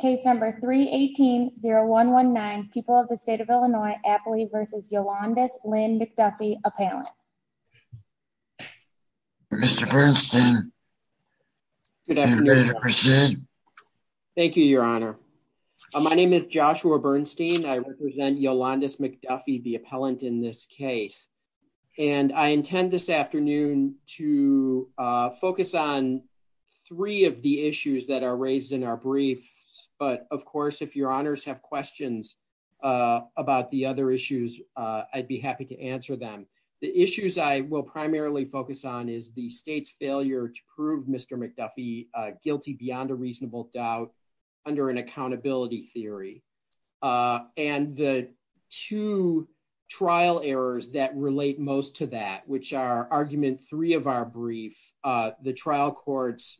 Case number 318-0119, people of the state of Illinois, Apley v. Yolandus Lynn McDuffie, appellant. Mr. Bernstein. Thank you, your honor. My name is Joshua Bernstein. I represent Yolandus McDuffie, the appellant in this case, and I intend this afternoon to focus on three of the issues that are raised in our briefs. But of course, if your honors have questions about the other issues, I'd be happy to answer them. The issues I will primarily focus on is the state's failure to prove Mr. McDuffie guilty beyond a reasonable doubt under an accountability theory. And the two trial errors that relate most to that, which are argument three of our brief, the trial courts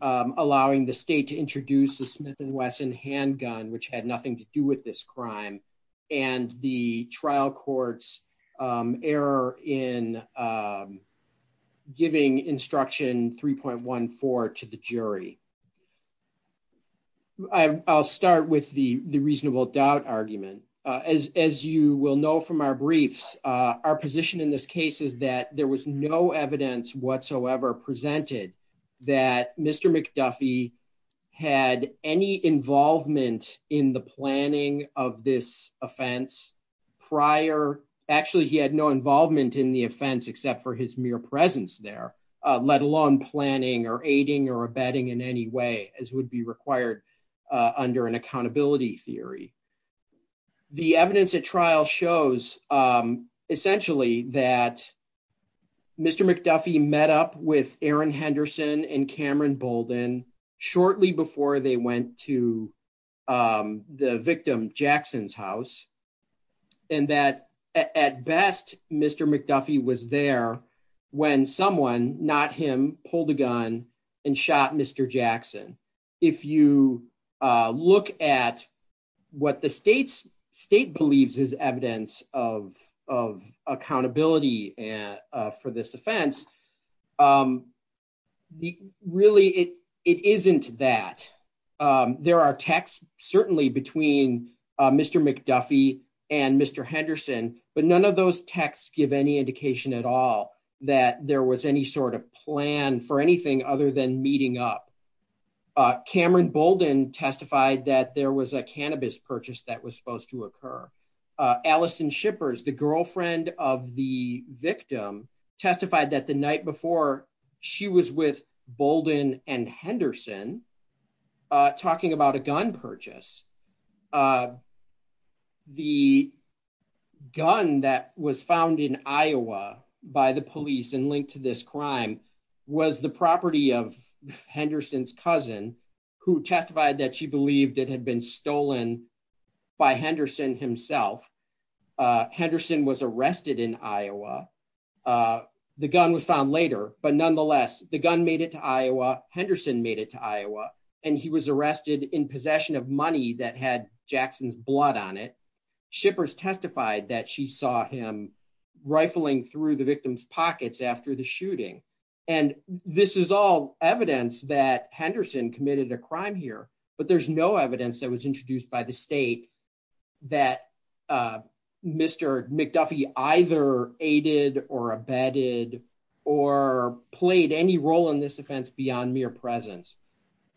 allowing the state to introduce the Smith & Wesson handgun, which had nothing to do with this crime, and the trial court's error in giving instruction 3.14 to the jury. I'll start with the reasonable doubt argument. As you will know from our briefs, our position in this case is that there was no evidence whatsoever presented that Mr. McDuffie had any involvement in the planning of this offense prior. Actually, he had no involvement in the offense except for his mere presence there, let alone planning or aiding or abetting in any way as would be required under an accountability theory. The evidence at trial shows essentially that Mr. McDuffie met up with Aaron Henderson and Cameron Bolden shortly before they went to the victim Jackson's house, and that at best, Mr. McDuffie was there when someone, not him, pulled a gun and shot Mr. Jackson. If you look at what the state believes is evidence of accountability for this offense, really, it isn't that. There are texts certainly between Mr. McDuffie and Mr. Henderson, but none of those texts give any indication at all that there was any sort of plan for anything other than meeting up. Cameron Bolden testified that there was a cannabis purchase that was supposed to occur. Allison Shippers, the girlfriend of the victim, testified that the night before she was with Bolden and Henderson talking about a gun purchase. The gun that was found in Iowa by the police and linked to this crime was the property of Henderson's cousin, who testified that she believed it had been stolen by Henderson himself. Henderson was arrested in Iowa. The gun was found later, but nonetheless, the gun made it to Iowa. Henderson made it to Iowa, and he was arrested in possession of money that had Jackson's blood on it. Shippers testified that she saw him rifling through the victim's pockets after the shooting. This is all evidence that Henderson committed a crime here, but there's no evidence that was introduced by the state that Mr. McDuffie either aided or abetted or played any role in this offense beyond mere presence.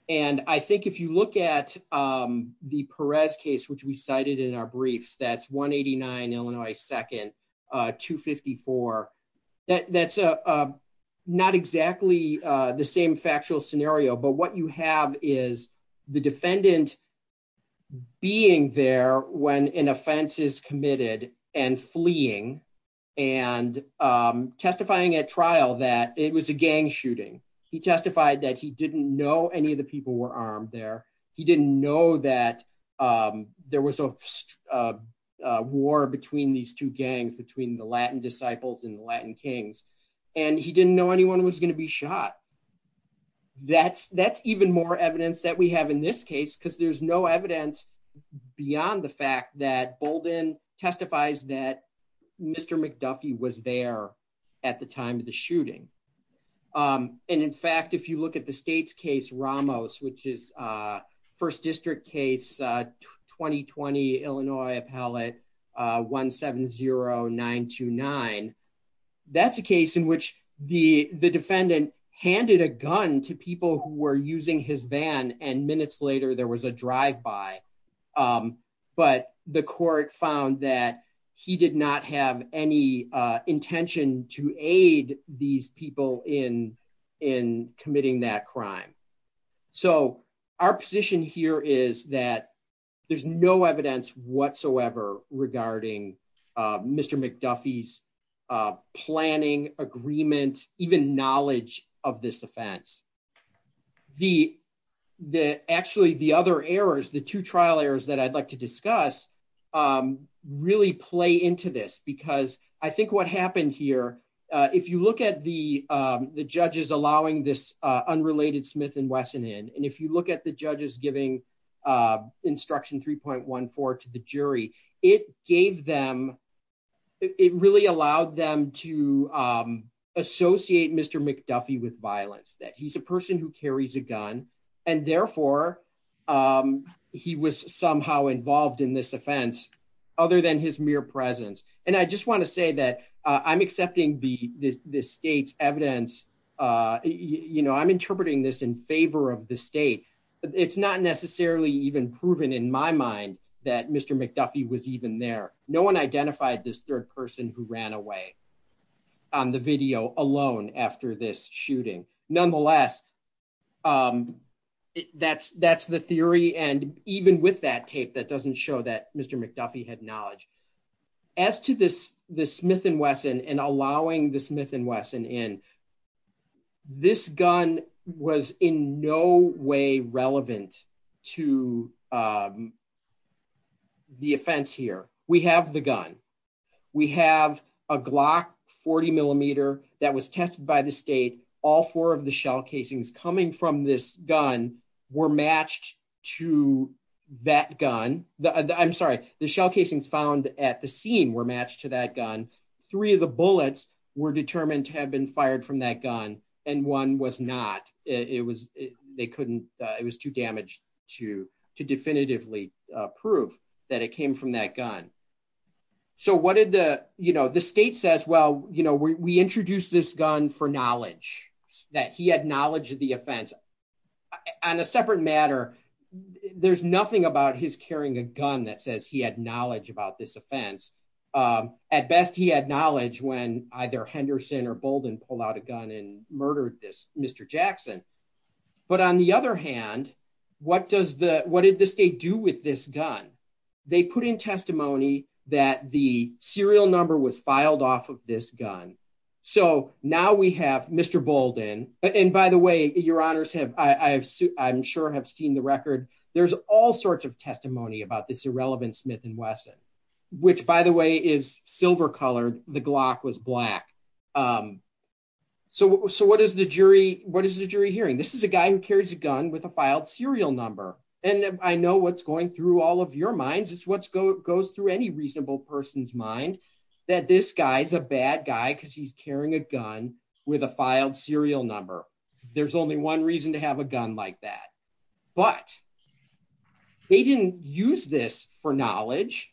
I think if you look at the Perez case, which we cited in our briefs, that's 189 Illinois 2nd, 254. That's not exactly the same factual scenario, but what you have is the defendant being there when an offense is committed and fleeing and testifying at trial that it was a armed crime. He didn't know that there was a war between these two gangs, between the Latin disciples and the Latin kings, and he didn't know anyone was going to be shot. That's even more evidence that we have in this case because there's no evidence beyond the fact that Bolden testifies that Mr. McDuffie was there at the time of the shooting. And in fact, if you look at the state's case, Ramos, which is First District case 2020, Illinois appellate 170929, that's a case in which the defendant handed a gun to people who were using his van and minutes later there was a drive-by, but the court found that he did not have any intention to aid these people in committing that crime. So our position here is that there's no evidence whatsoever regarding Mr. McDuffie's planning, agreement, even knowledge of this offense. Actually, the other errors, the two trial errors that I'd like to discuss really play into this because I think what happened here, if you look at the judges allowing this unrelated Smith and Wesson in, and if you look at the judges giving instruction 3.14 to the jury, it gave them, it really allowed them to associate Mr. McDuffie with violence, that he's a person who carries a gun and therefore he was somehow involved in this offense other than his mere presence. And I just want to say that I'm accepting the state's evidence. I'm interpreting this in favor of the state, but it's not necessarily even proven in my mind that Mr. McDuffie was even there. No one identified this third person who ran away on the video alone after this shooting. Nonetheless, that's the theory. And even with that tape, that doesn't show that Mr. McDuffie had knowledge. As to this Smith and Wesson and allowing the Smith and Wesson in, this gun was in no way relevant to the offense here. We have the gun. We have a Glock 40 millimeter that was tested by the state. All four of the shell casings coming from this gun were matched to that gun. I'm sorry, the shell casings found at the scene were matched to that gun. Three of the bullets were determined to have been fired from that gun and one was not. It was, they couldn't, it was too damaged to definitively prove that it came from that gun. So what did the, you know, the state says, well, we introduced this gun for knowledge, that he had knowledge of the offense. On a separate matter, there's nothing about his carrying a gun that says he had knowledge about this offense. At best, he had knowledge when either Henderson or Bolden pulled out a gun and murdered this Mr. Jackson. But on the other hand, what did the state do with this gun? They put in testimony that the serial number was filed off of this gun. So now we have Mr. Bolden, and by the way, your honors have, I'm sure have seen the record. There's all sorts of testimony about this irrelevant Smith and Wesson, which by the way is silver colored. The Glock was black. So what is the jury hearing? This is a guy who carries a gun with a filed serial number. And I know what's going through all of your minds. It's what's go, goes through any reasonable person's mind that this guy's a bad guy because he's carrying a gun with a filed serial number. There's only one reason to have a gun like that. But they didn't use this for knowledge.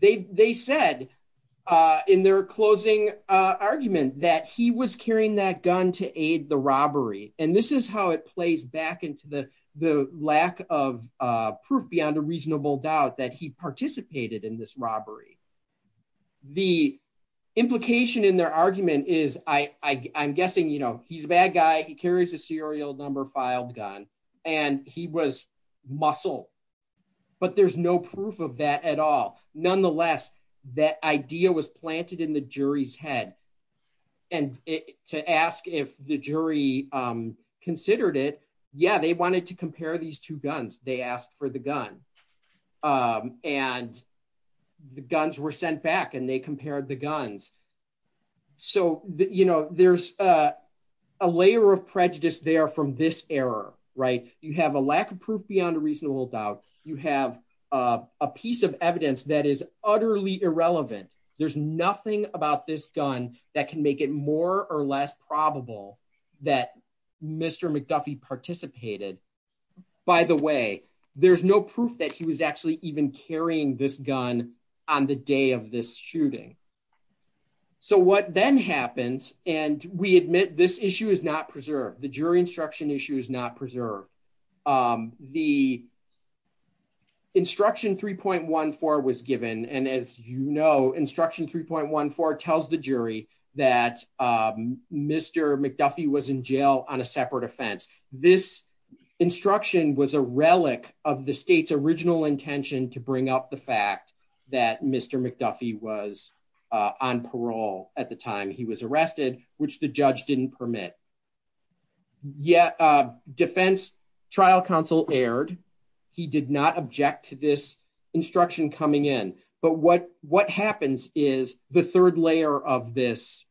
They, they said in their closing argument that he was carrying that gun to aid the robbery. And this is how it plays back into the, the lack of proof beyond a reasonable doubt that he participated in this robbery. The implication in their argument is I, I, I'm guessing, you know, he's a bad guy. He carries a serial number filed gun and he was muscle, but there's no proof of that at all. Nonetheless, that idea was planted in the jury's head and to ask if the jury considered it. Yeah. They wanted to compare these two guns. They asked for the gun and the guns were sent back and they compared the guns. So the, you know, there's a, a layer of prejudice there from this error, right? You have a lack of proof beyond a reasonable doubt. You have a piece of evidence that is utterly irrelevant. There's nothing about this gun that can make it more or less probable that Mr. McDuffie participated by the way, there's no proof that he was actually even carrying this gun on the day of this shooting. So what then happens, and we admit this issue is not preserved. The jury instruction issue is not instruction 3.14 was given. And as you know, instruction 3.14 tells the jury that Mr. McDuffie was in jail on a separate offense. This instruction was a relic of the state's original intention to bring up the fact that Mr. McDuffie was on parole at the time he was arrested, which the judge didn't permit. Yeah. Defense trial counsel erred. He did not object to this instruction coming in. But what, what happens is the third layer of this,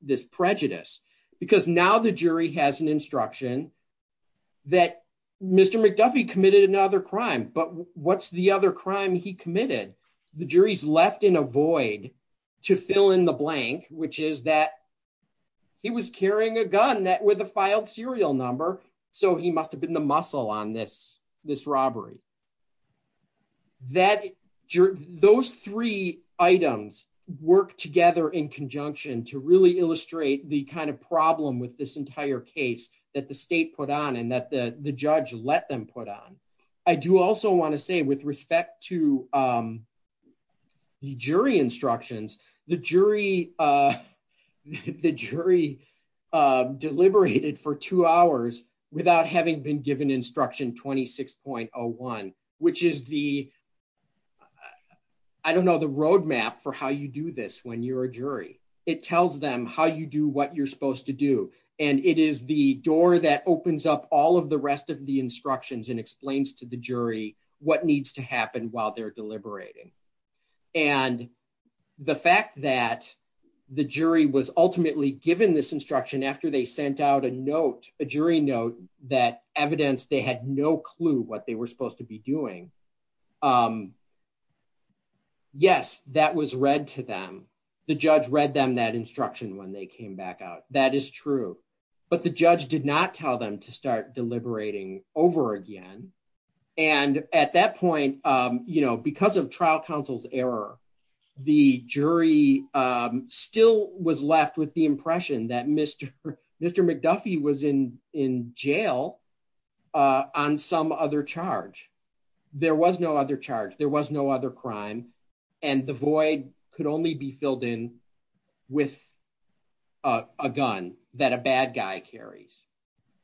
this prejudice, because now the jury has an instruction that Mr. McDuffie committed another crime, but what's the other crime he committed? The jury's left in a void to fill in the blank, which is that he was carrying a gun that with a filed serial number. So he must have been the muscle on this, this robbery that those three items work together in conjunction to really illustrate the kind of problem with this entire case that the state put on and that the judge let them put on. I do also want to say with respect to the jury instructions, the jury deliberated for two hours without having been given instruction 26.01, which is the, I don't know the roadmap for how you do this when you're a jury, it tells them how you do what you're supposed to do. And it is the door that opens up all of the rest of the instructions and explains to the jury what needs to happen while they're deliberating. And the fact that the jury was ultimately given this instruction after they sent out a note, a jury note, that evidence, they had no clue what they were supposed to be doing. Yes, that was read to them. The judge read them that instruction when they came back out. That is true. But the judge did not tell them to start deliberating over again. And at that point, because of trial counsel's error, the jury still was left with the impression that Mr. McDuffie was in jail on some other charge. There was no other charge. There was no other crime. And the void could only be filled in with a gun that a bad guy carries.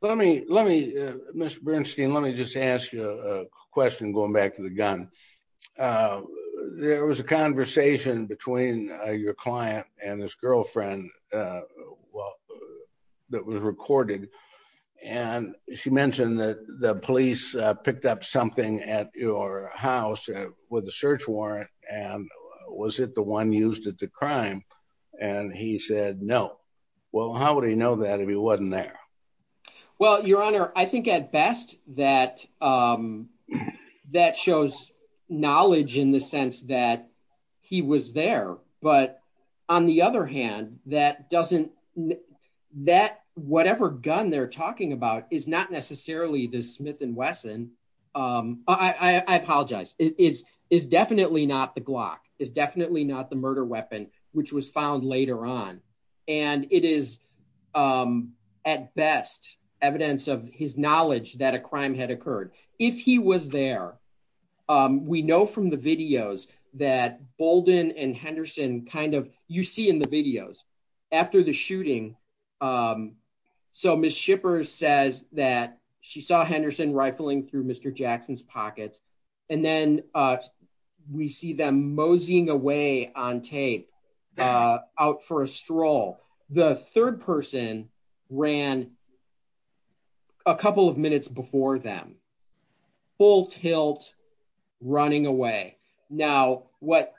Mr. Bernstein, let me just ask you a question going back to the gun. There was a conversation between your client and his girlfriend that was recorded. And she mentioned that the police picked up something at your house with a search warrant. And was it the one used at the crime? And he said, no. Well, how would he know that if he wasn't there? Well, your honor, I think at best that that shows knowledge in the sense that he was there. But on the other hand, that doesn't that whatever gun they're talking about is not necessarily the Smith & Wesson. I apologize. It is definitely not the Glock. It's definitely not the murder weapon, which was found later on. And it is at best evidence of his knowledge that a crime had occurred. If he was there, we know from the videos that Bolden and Henderson kind of you see in the videos after the shooting. So Miss Shippers says that she saw Henderson rifling through Mr. Jackson's pockets. And then we see them moseying away on tape out for a stroll. The third person ran a couple of minutes before them, full tilt, running away. Now, what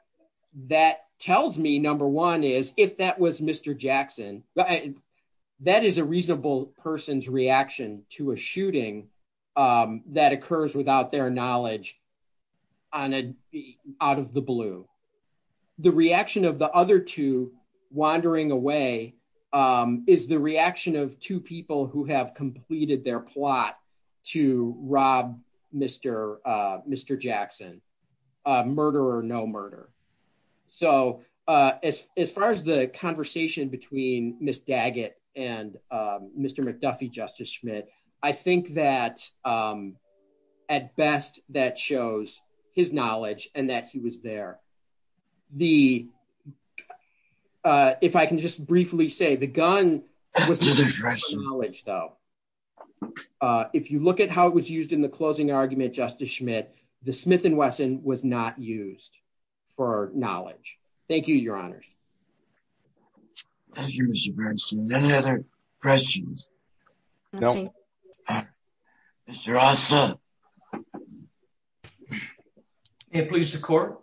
that tells me, number one, is if that was Mr. Jackson, that is a reasonable person's reaction to a shooting that occurs without their knowledge out of the blue. The reaction of the other two wandering away is the reaction of two people who have completed their plot to rob Mr. Jackson. Murder or no murder. So as far as the conversation between Miss Daggett and Mr. McDuffie, Justice Schmidt, I think that at best that shows his knowledge and that he was there. If I can just briefly say the gun was his knowledge though. If you look at how it was was not used for knowledge. Thank you, your honors. Thank you, Mr. Bernstein. Any other questions? No. Mr. Ossoff. May it please the court,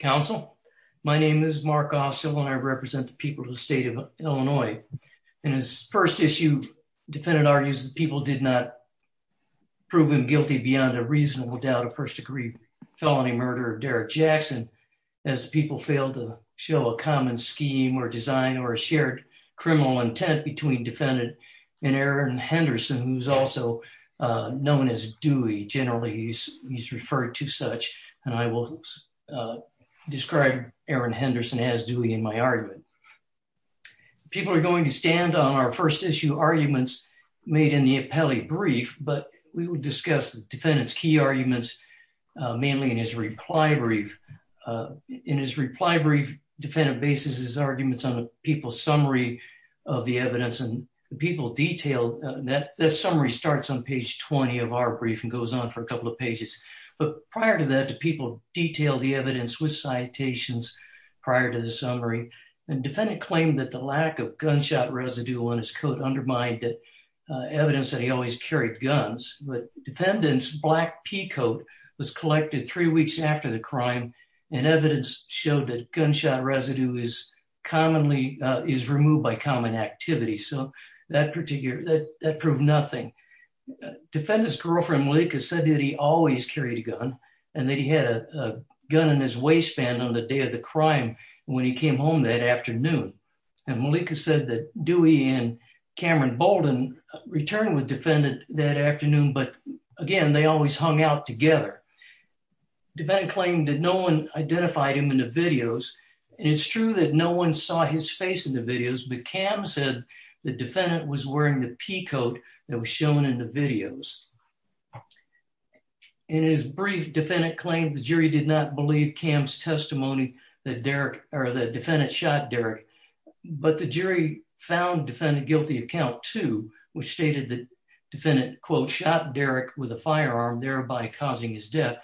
counsel. My name is Mark Ossoff and I represent the people of the state of Illinois. In his first issue, defendant argues that people did not prove him guilty beyond a reasonable doubt of first degree felony murder of Derrick Jackson as people failed to show a common scheme or design or a shared criminal intent between defendant and Aaron Henderson, who's also known as Dewey. Generally, he's referred to such and I will describe Aaron Henderson as Dewey in my argument. People are going to stand on our first issue arguments made in the appellee brief, but we will discuss the defendant's key arguments, mainly in his reply brief. In his reply brief, defendant bases his arguments on the people's summary of the evidence and the people detail that the summary starts on page 20 of our brief and goes on for a couple of pages. But prior to that, the people detail the evidence with citations prior to the summary and defendant claimed that the lack of gunshot residue on his coat undermined evidence that he always carried guns. But defendant's black peacoat was collected three weeks after the crime and evidence showed that gunshot residue is removed by common activity. So that proved nothing. Defendant's girlfriend, Malika, said that he always carried a gun and he had a gun in his waistband on the day of the crime when he came home that afternoon. And Malika said that Dewey and Cameron Bolden returned with defendant that afternoon, but again, they always hung out together. Defendant claimed that no one identified him in the videos and it's true that no one saw his face in the videos, but Cam said the defendant was wearing the peacoat that was shown in the videos. In his brief, defendant claimed the jury did not believe Cam's testimony that Derek or the defendant shot Derek, but the jury found defendant guilty of count two, which stated that defendant quote shot Derek with a firearm, thereby causing his death.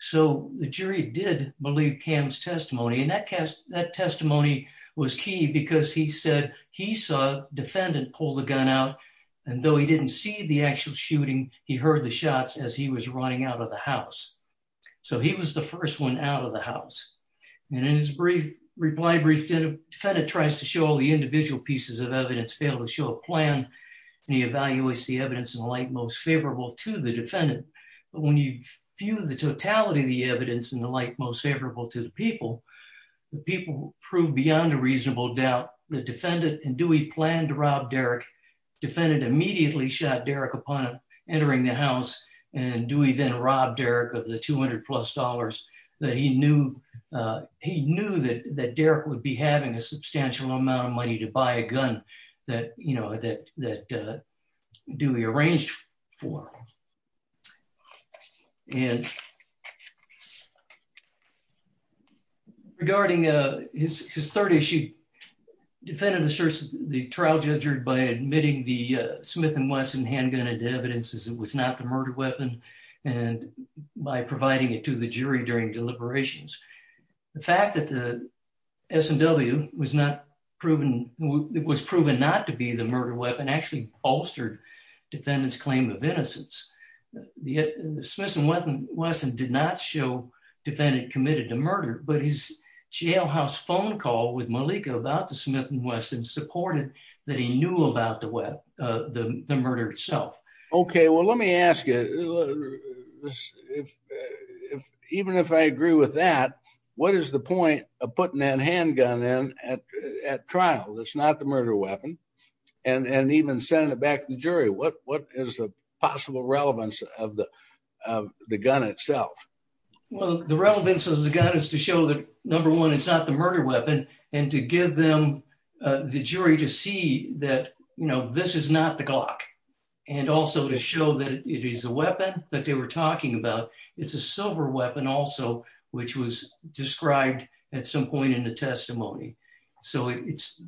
So the jury did believe Cam's testimony and that testimony was key because he said he saw defendant pull the gun out and though he didn't see the actual shooting, he heard the shots as he was running out of the house. So he was the first one out of the house. And in his brief reply brief, defendant tries to show all the individual pieces of evidence, failed to show a plan, and he evaluates the evidence in light most favorable to the defendant. But when you view the totality of the evidence in the light most favorable to the people, the people prove beyond a reasonable doubt the defendant and Dewey planned to rob Derek. Defendant immediately shot Derek upon entering the house and Dewey then robbed Derek of the 200 plus dollars that he knew, he knew that that Derek would be having a substantial amount of money to buy a gun that, you know, that His third issue, defendant asserts the trial judger by admitting the Smith & Wesson handgun and evidence as it was not the murder weapon and by providing it to the jury during deliberations. The fact that the S&W was not proven, it was proven not to be the murder weapon actually bolstered defendant's claim of innocence. The Smith & Wesson did not show defendant committed a murder but his jailhouse phone call with Malika about the Smith & Wesson supported that he knew about the murder itself. Okay, well let me ask you, even if I agree with that, what is the point of putting that handgun in at trial that's not the murder weapon and even sending it back to the jury? What is the possible relevance of the number one is not the murder weapon and to give them the jury to see that, you know, this is not the Glock and also to show that it is a weapon that they were talking about. It's a silver weapon also, which was described at some point in the testimony. So it's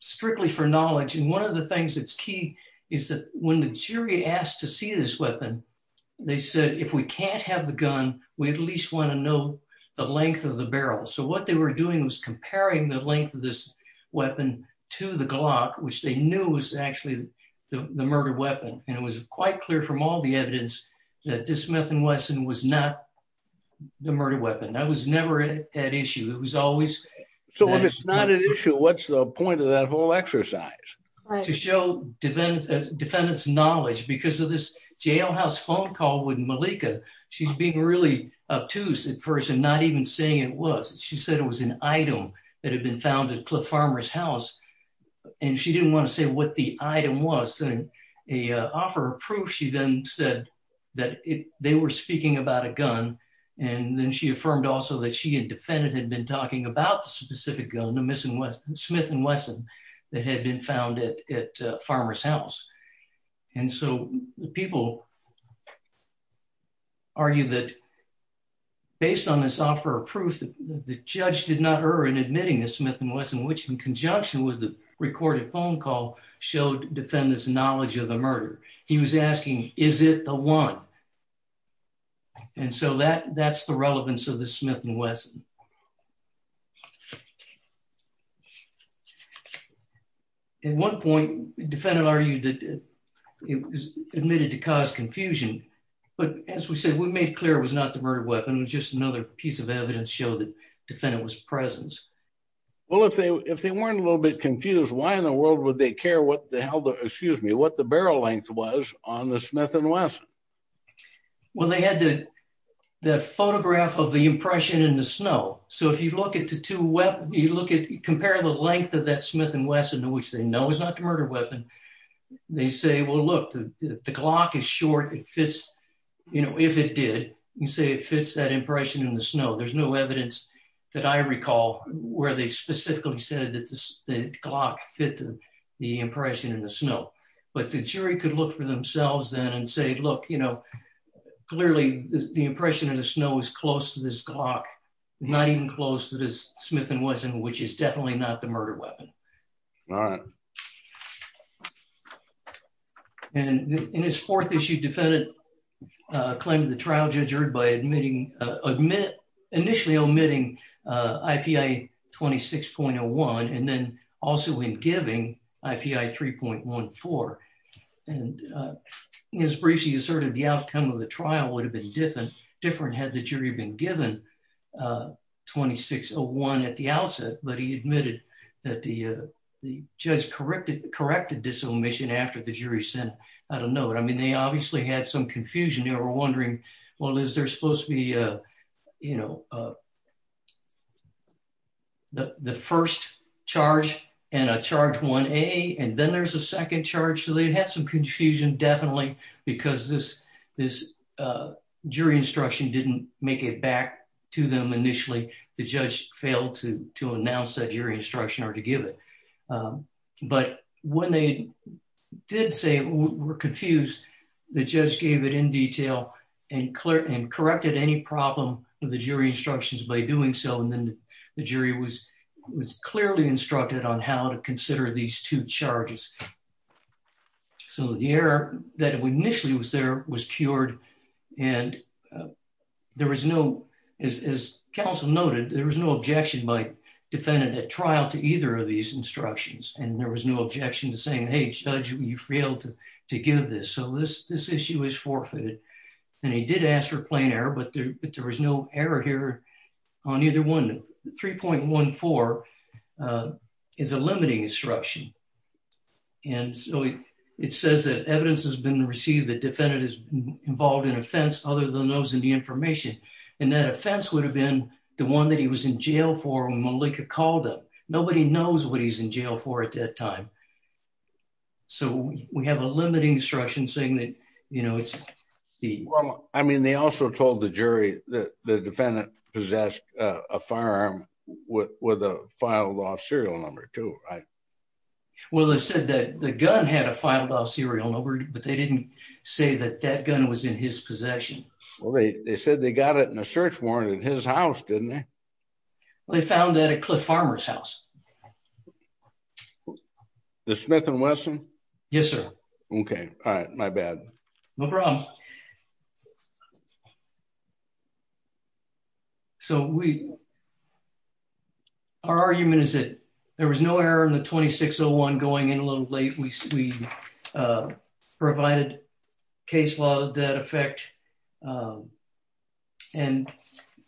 strictly for knowledge and one of the things that's key is that when the jury asked to see this weapon, they said if we can't have the gun, we at least want to know the length of the barrel. So what they were doing was comparing the length of this weapon to the Glock, which they knew was actually the murder weapon and it was quite clear from all the evidence that the Smith & Wesson was not the murder weapon. That was never an issue. It was always. So if it's not an issue, what's the point of that whole exercise? To show defendants' knowledge because of this jailhouse phone call with Malika, she's being really obtuse at first and not even saying it was. She said it was an item that had been found at Cliff Farmer's house and she didn't want to say what the item was. A offer of proof, she then said that they were speaking about a gun and then she affirmed also that she and defendant had been talking about the specific Smith & Wesson that had been found at Farmer's house. And so the people argue that based on this offer of proof, the judge did not err in admitting the Smith & Wesson, which in conjunction with the recorded phone call showed defendants' knowledge of the murder. He was asking, is it the one? And so that's the relevance of the Smith & Wesson. At one point, defendant argued that it was admitted to cause confusion. But as we said, we made clear it was not the murder weapon. It was just another piece of evidence to show that defendant was present. Well, if they weren't a little bit confused, why in the world would they care what the barrel length was on the Smith & Wesson? Well, they had the photograph of the impression in the snow. So if you compare the length of that Smith & Wesson, which they know is not the murder weapon, they say, well, look, the Glock is short. If it did, you say it fits that impression in the snow. There's no evidence that I recall where they specifically said that the Glock fit the impression in the snow. But the jury could look for themselves then and say, look, you know, clearly the impression in the snow is close to this Glock, not even close to this Smith & Wesson, which is definitely not the murder weapon. All right. And in his fourth issue, defendant claimed the trial judge heard by initially omitting I.P.I. 26.01 and then also in giving I.P.I. 3.14. And his briefs asserted the outcome of the trial would have been different had the jury been given 26.01 at the outset. But he admitted that the judge corrected this omission after the jury sent out a note. I mean, they obviously had some confusion. They were wondering, well, is there supposed to be, you know, the first charge and a charge 1A and then there's a second charge. So they had some confusion definitely because this jury instruction didn't make it back to them initially. The judge failed to announce that jury instruction or to give it. But when they did say we're confused, the judge gave it in detail and corrected any problem with the jury instructions by doing so. And then the jury was clearly instructed on how to consider these two charges. So the error that initially was there was cured. And there was no, as counsel noted, there was no objection by defendant at trial to either of these instructions. And there was no objection to saying, hey, judge, you failed to give this. So this issue is forfeited. And he did ask for plain error, but there was no error here on either one. 3.14 is a limiting instruction. And so it says that evidence has been received that defendant is involved in offense other than those in the information. And that offense would have been the one that he was in jail for when he was in jail. So we have a limiting instruction saying that, you know, it's he. Well, I mean, they also told the jury that the defendant possessed a firearm with a filed-off serial number too, right? Well, they said that the gun had a filed-off serial number, but they didn't say that that gun was in his possession. Well, they said they got it in a search warrant at his house, didn't they? They found that at Cliff Farmer's house. The Smith and Wesson? Yes, sir. Okay. All right. My bad. No problem. So we, our argument is that there was no error in the 2601 going in a little late. We provided case law that effect. And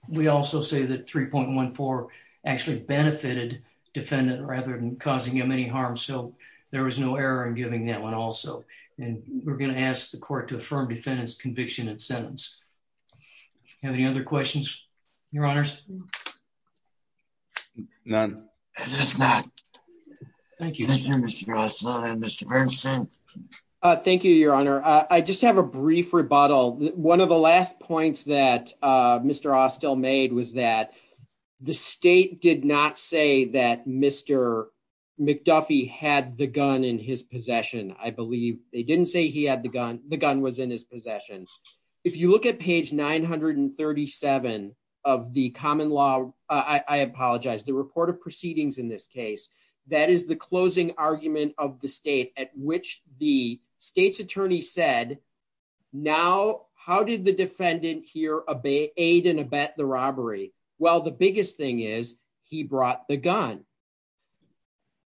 we also say that 3.14 actually benefited defendant rather than causing him any harm. So there was no error in giving that one also. And we're going to ask the court to affirm defendant's conviction and sentence. Have any other questions, your honors? None. Thank you. Thank you, your honor. I just have a brief rebuttal. One of the last points that Mr. McDuffie had the gun in his possession, I believe they didn't say he had the gun, the gun was in his possession. If you look at page 937 of the common law, I apologize, the report of proceedings in this case, that is the closing argument of the state at which the state's attorney said, now, how did the defendant here aid and abet the robbery? Well, the biggest thing is he brought the gun.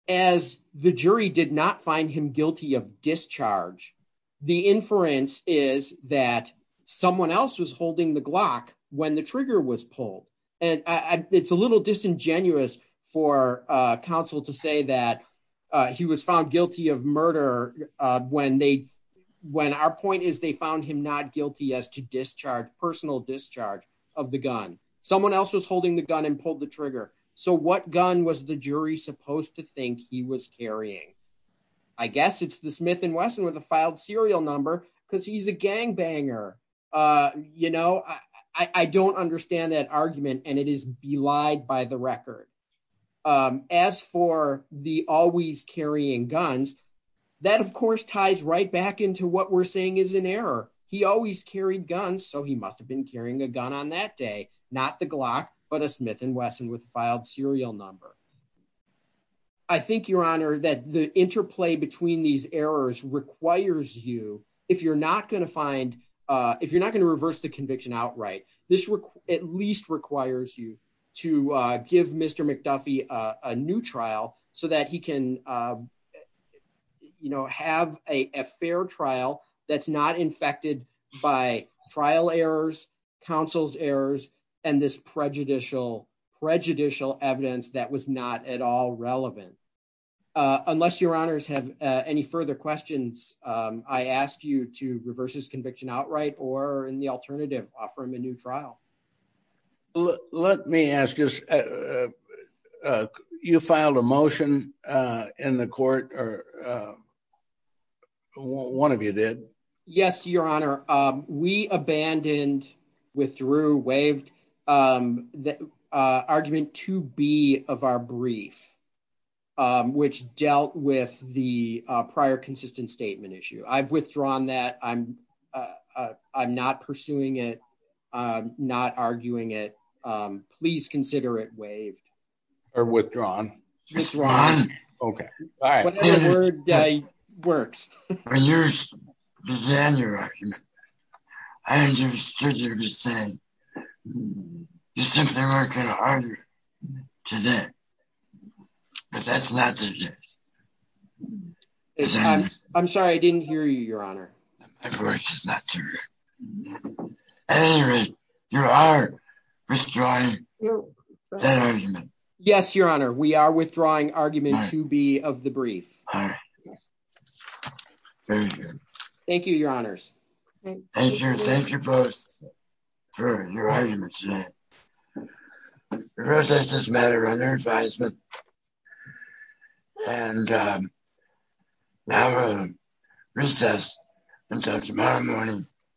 As the jury did not find him guilty of discharge, the inference is that someone else was holding the Glock when the trigger was pulled. And it's a little disingenuous for counsel to say that he was found guilty of murder when they, when our point is they found him not guilty as to personal discharge of the gun. Someone else was holding the gun and pulled the trigger. So what gun was the jury supposed to think he was carrying? I guess it's the Smith & Wesson with a filed serial number because he's a gangbanger. You know, I don't understand that argument and it is belied by the record. As for the always carrying guns, that of course ties right back into what we're saying is an error. He always carried guns. So he must've been carrying a gun on that day, not the Glock, but a Smith & Wesson with filed serial number. I think your honor that the interplay between these errors requires you, if you're not going to find, if you're not going to reverse the conviction outright, this at least requires you to give Mr. McDuffie a new trial so that he can, you know, have a fair trial that's not infected by trial errors, counsel's errors, and this prejudicial evidence that was not at all relevant. Unless your honors have any further questions, I ask you to reverse his conviction outright or in the alternative, offer him a new trial. Let me ask you, you filed a motion in the court or one of you did? Yes, your honor. We abandoned, withdrew, waived the argument to be of our brief, which dealt with the prior consistent statement issue. I've withdrawn that. I'm not pursuing it. I'm not arguing it. Please consider it waived. Or withdrawn. Okay. All right. Whatever works. When you began your argument, I understood you were saying you simply weren't going to argue today, but that's not the case. I'm sorry. I didn't hear you, your honor. At any rate, you are withdrawing that argument. Yes, your honor. We are withdrawing argument to be of the brief. All right. Very good. Thank you, your honors. Thank you. Thank you both for your arguments today. The protestors met around their advisement and now we'll recess until tomorrow morning.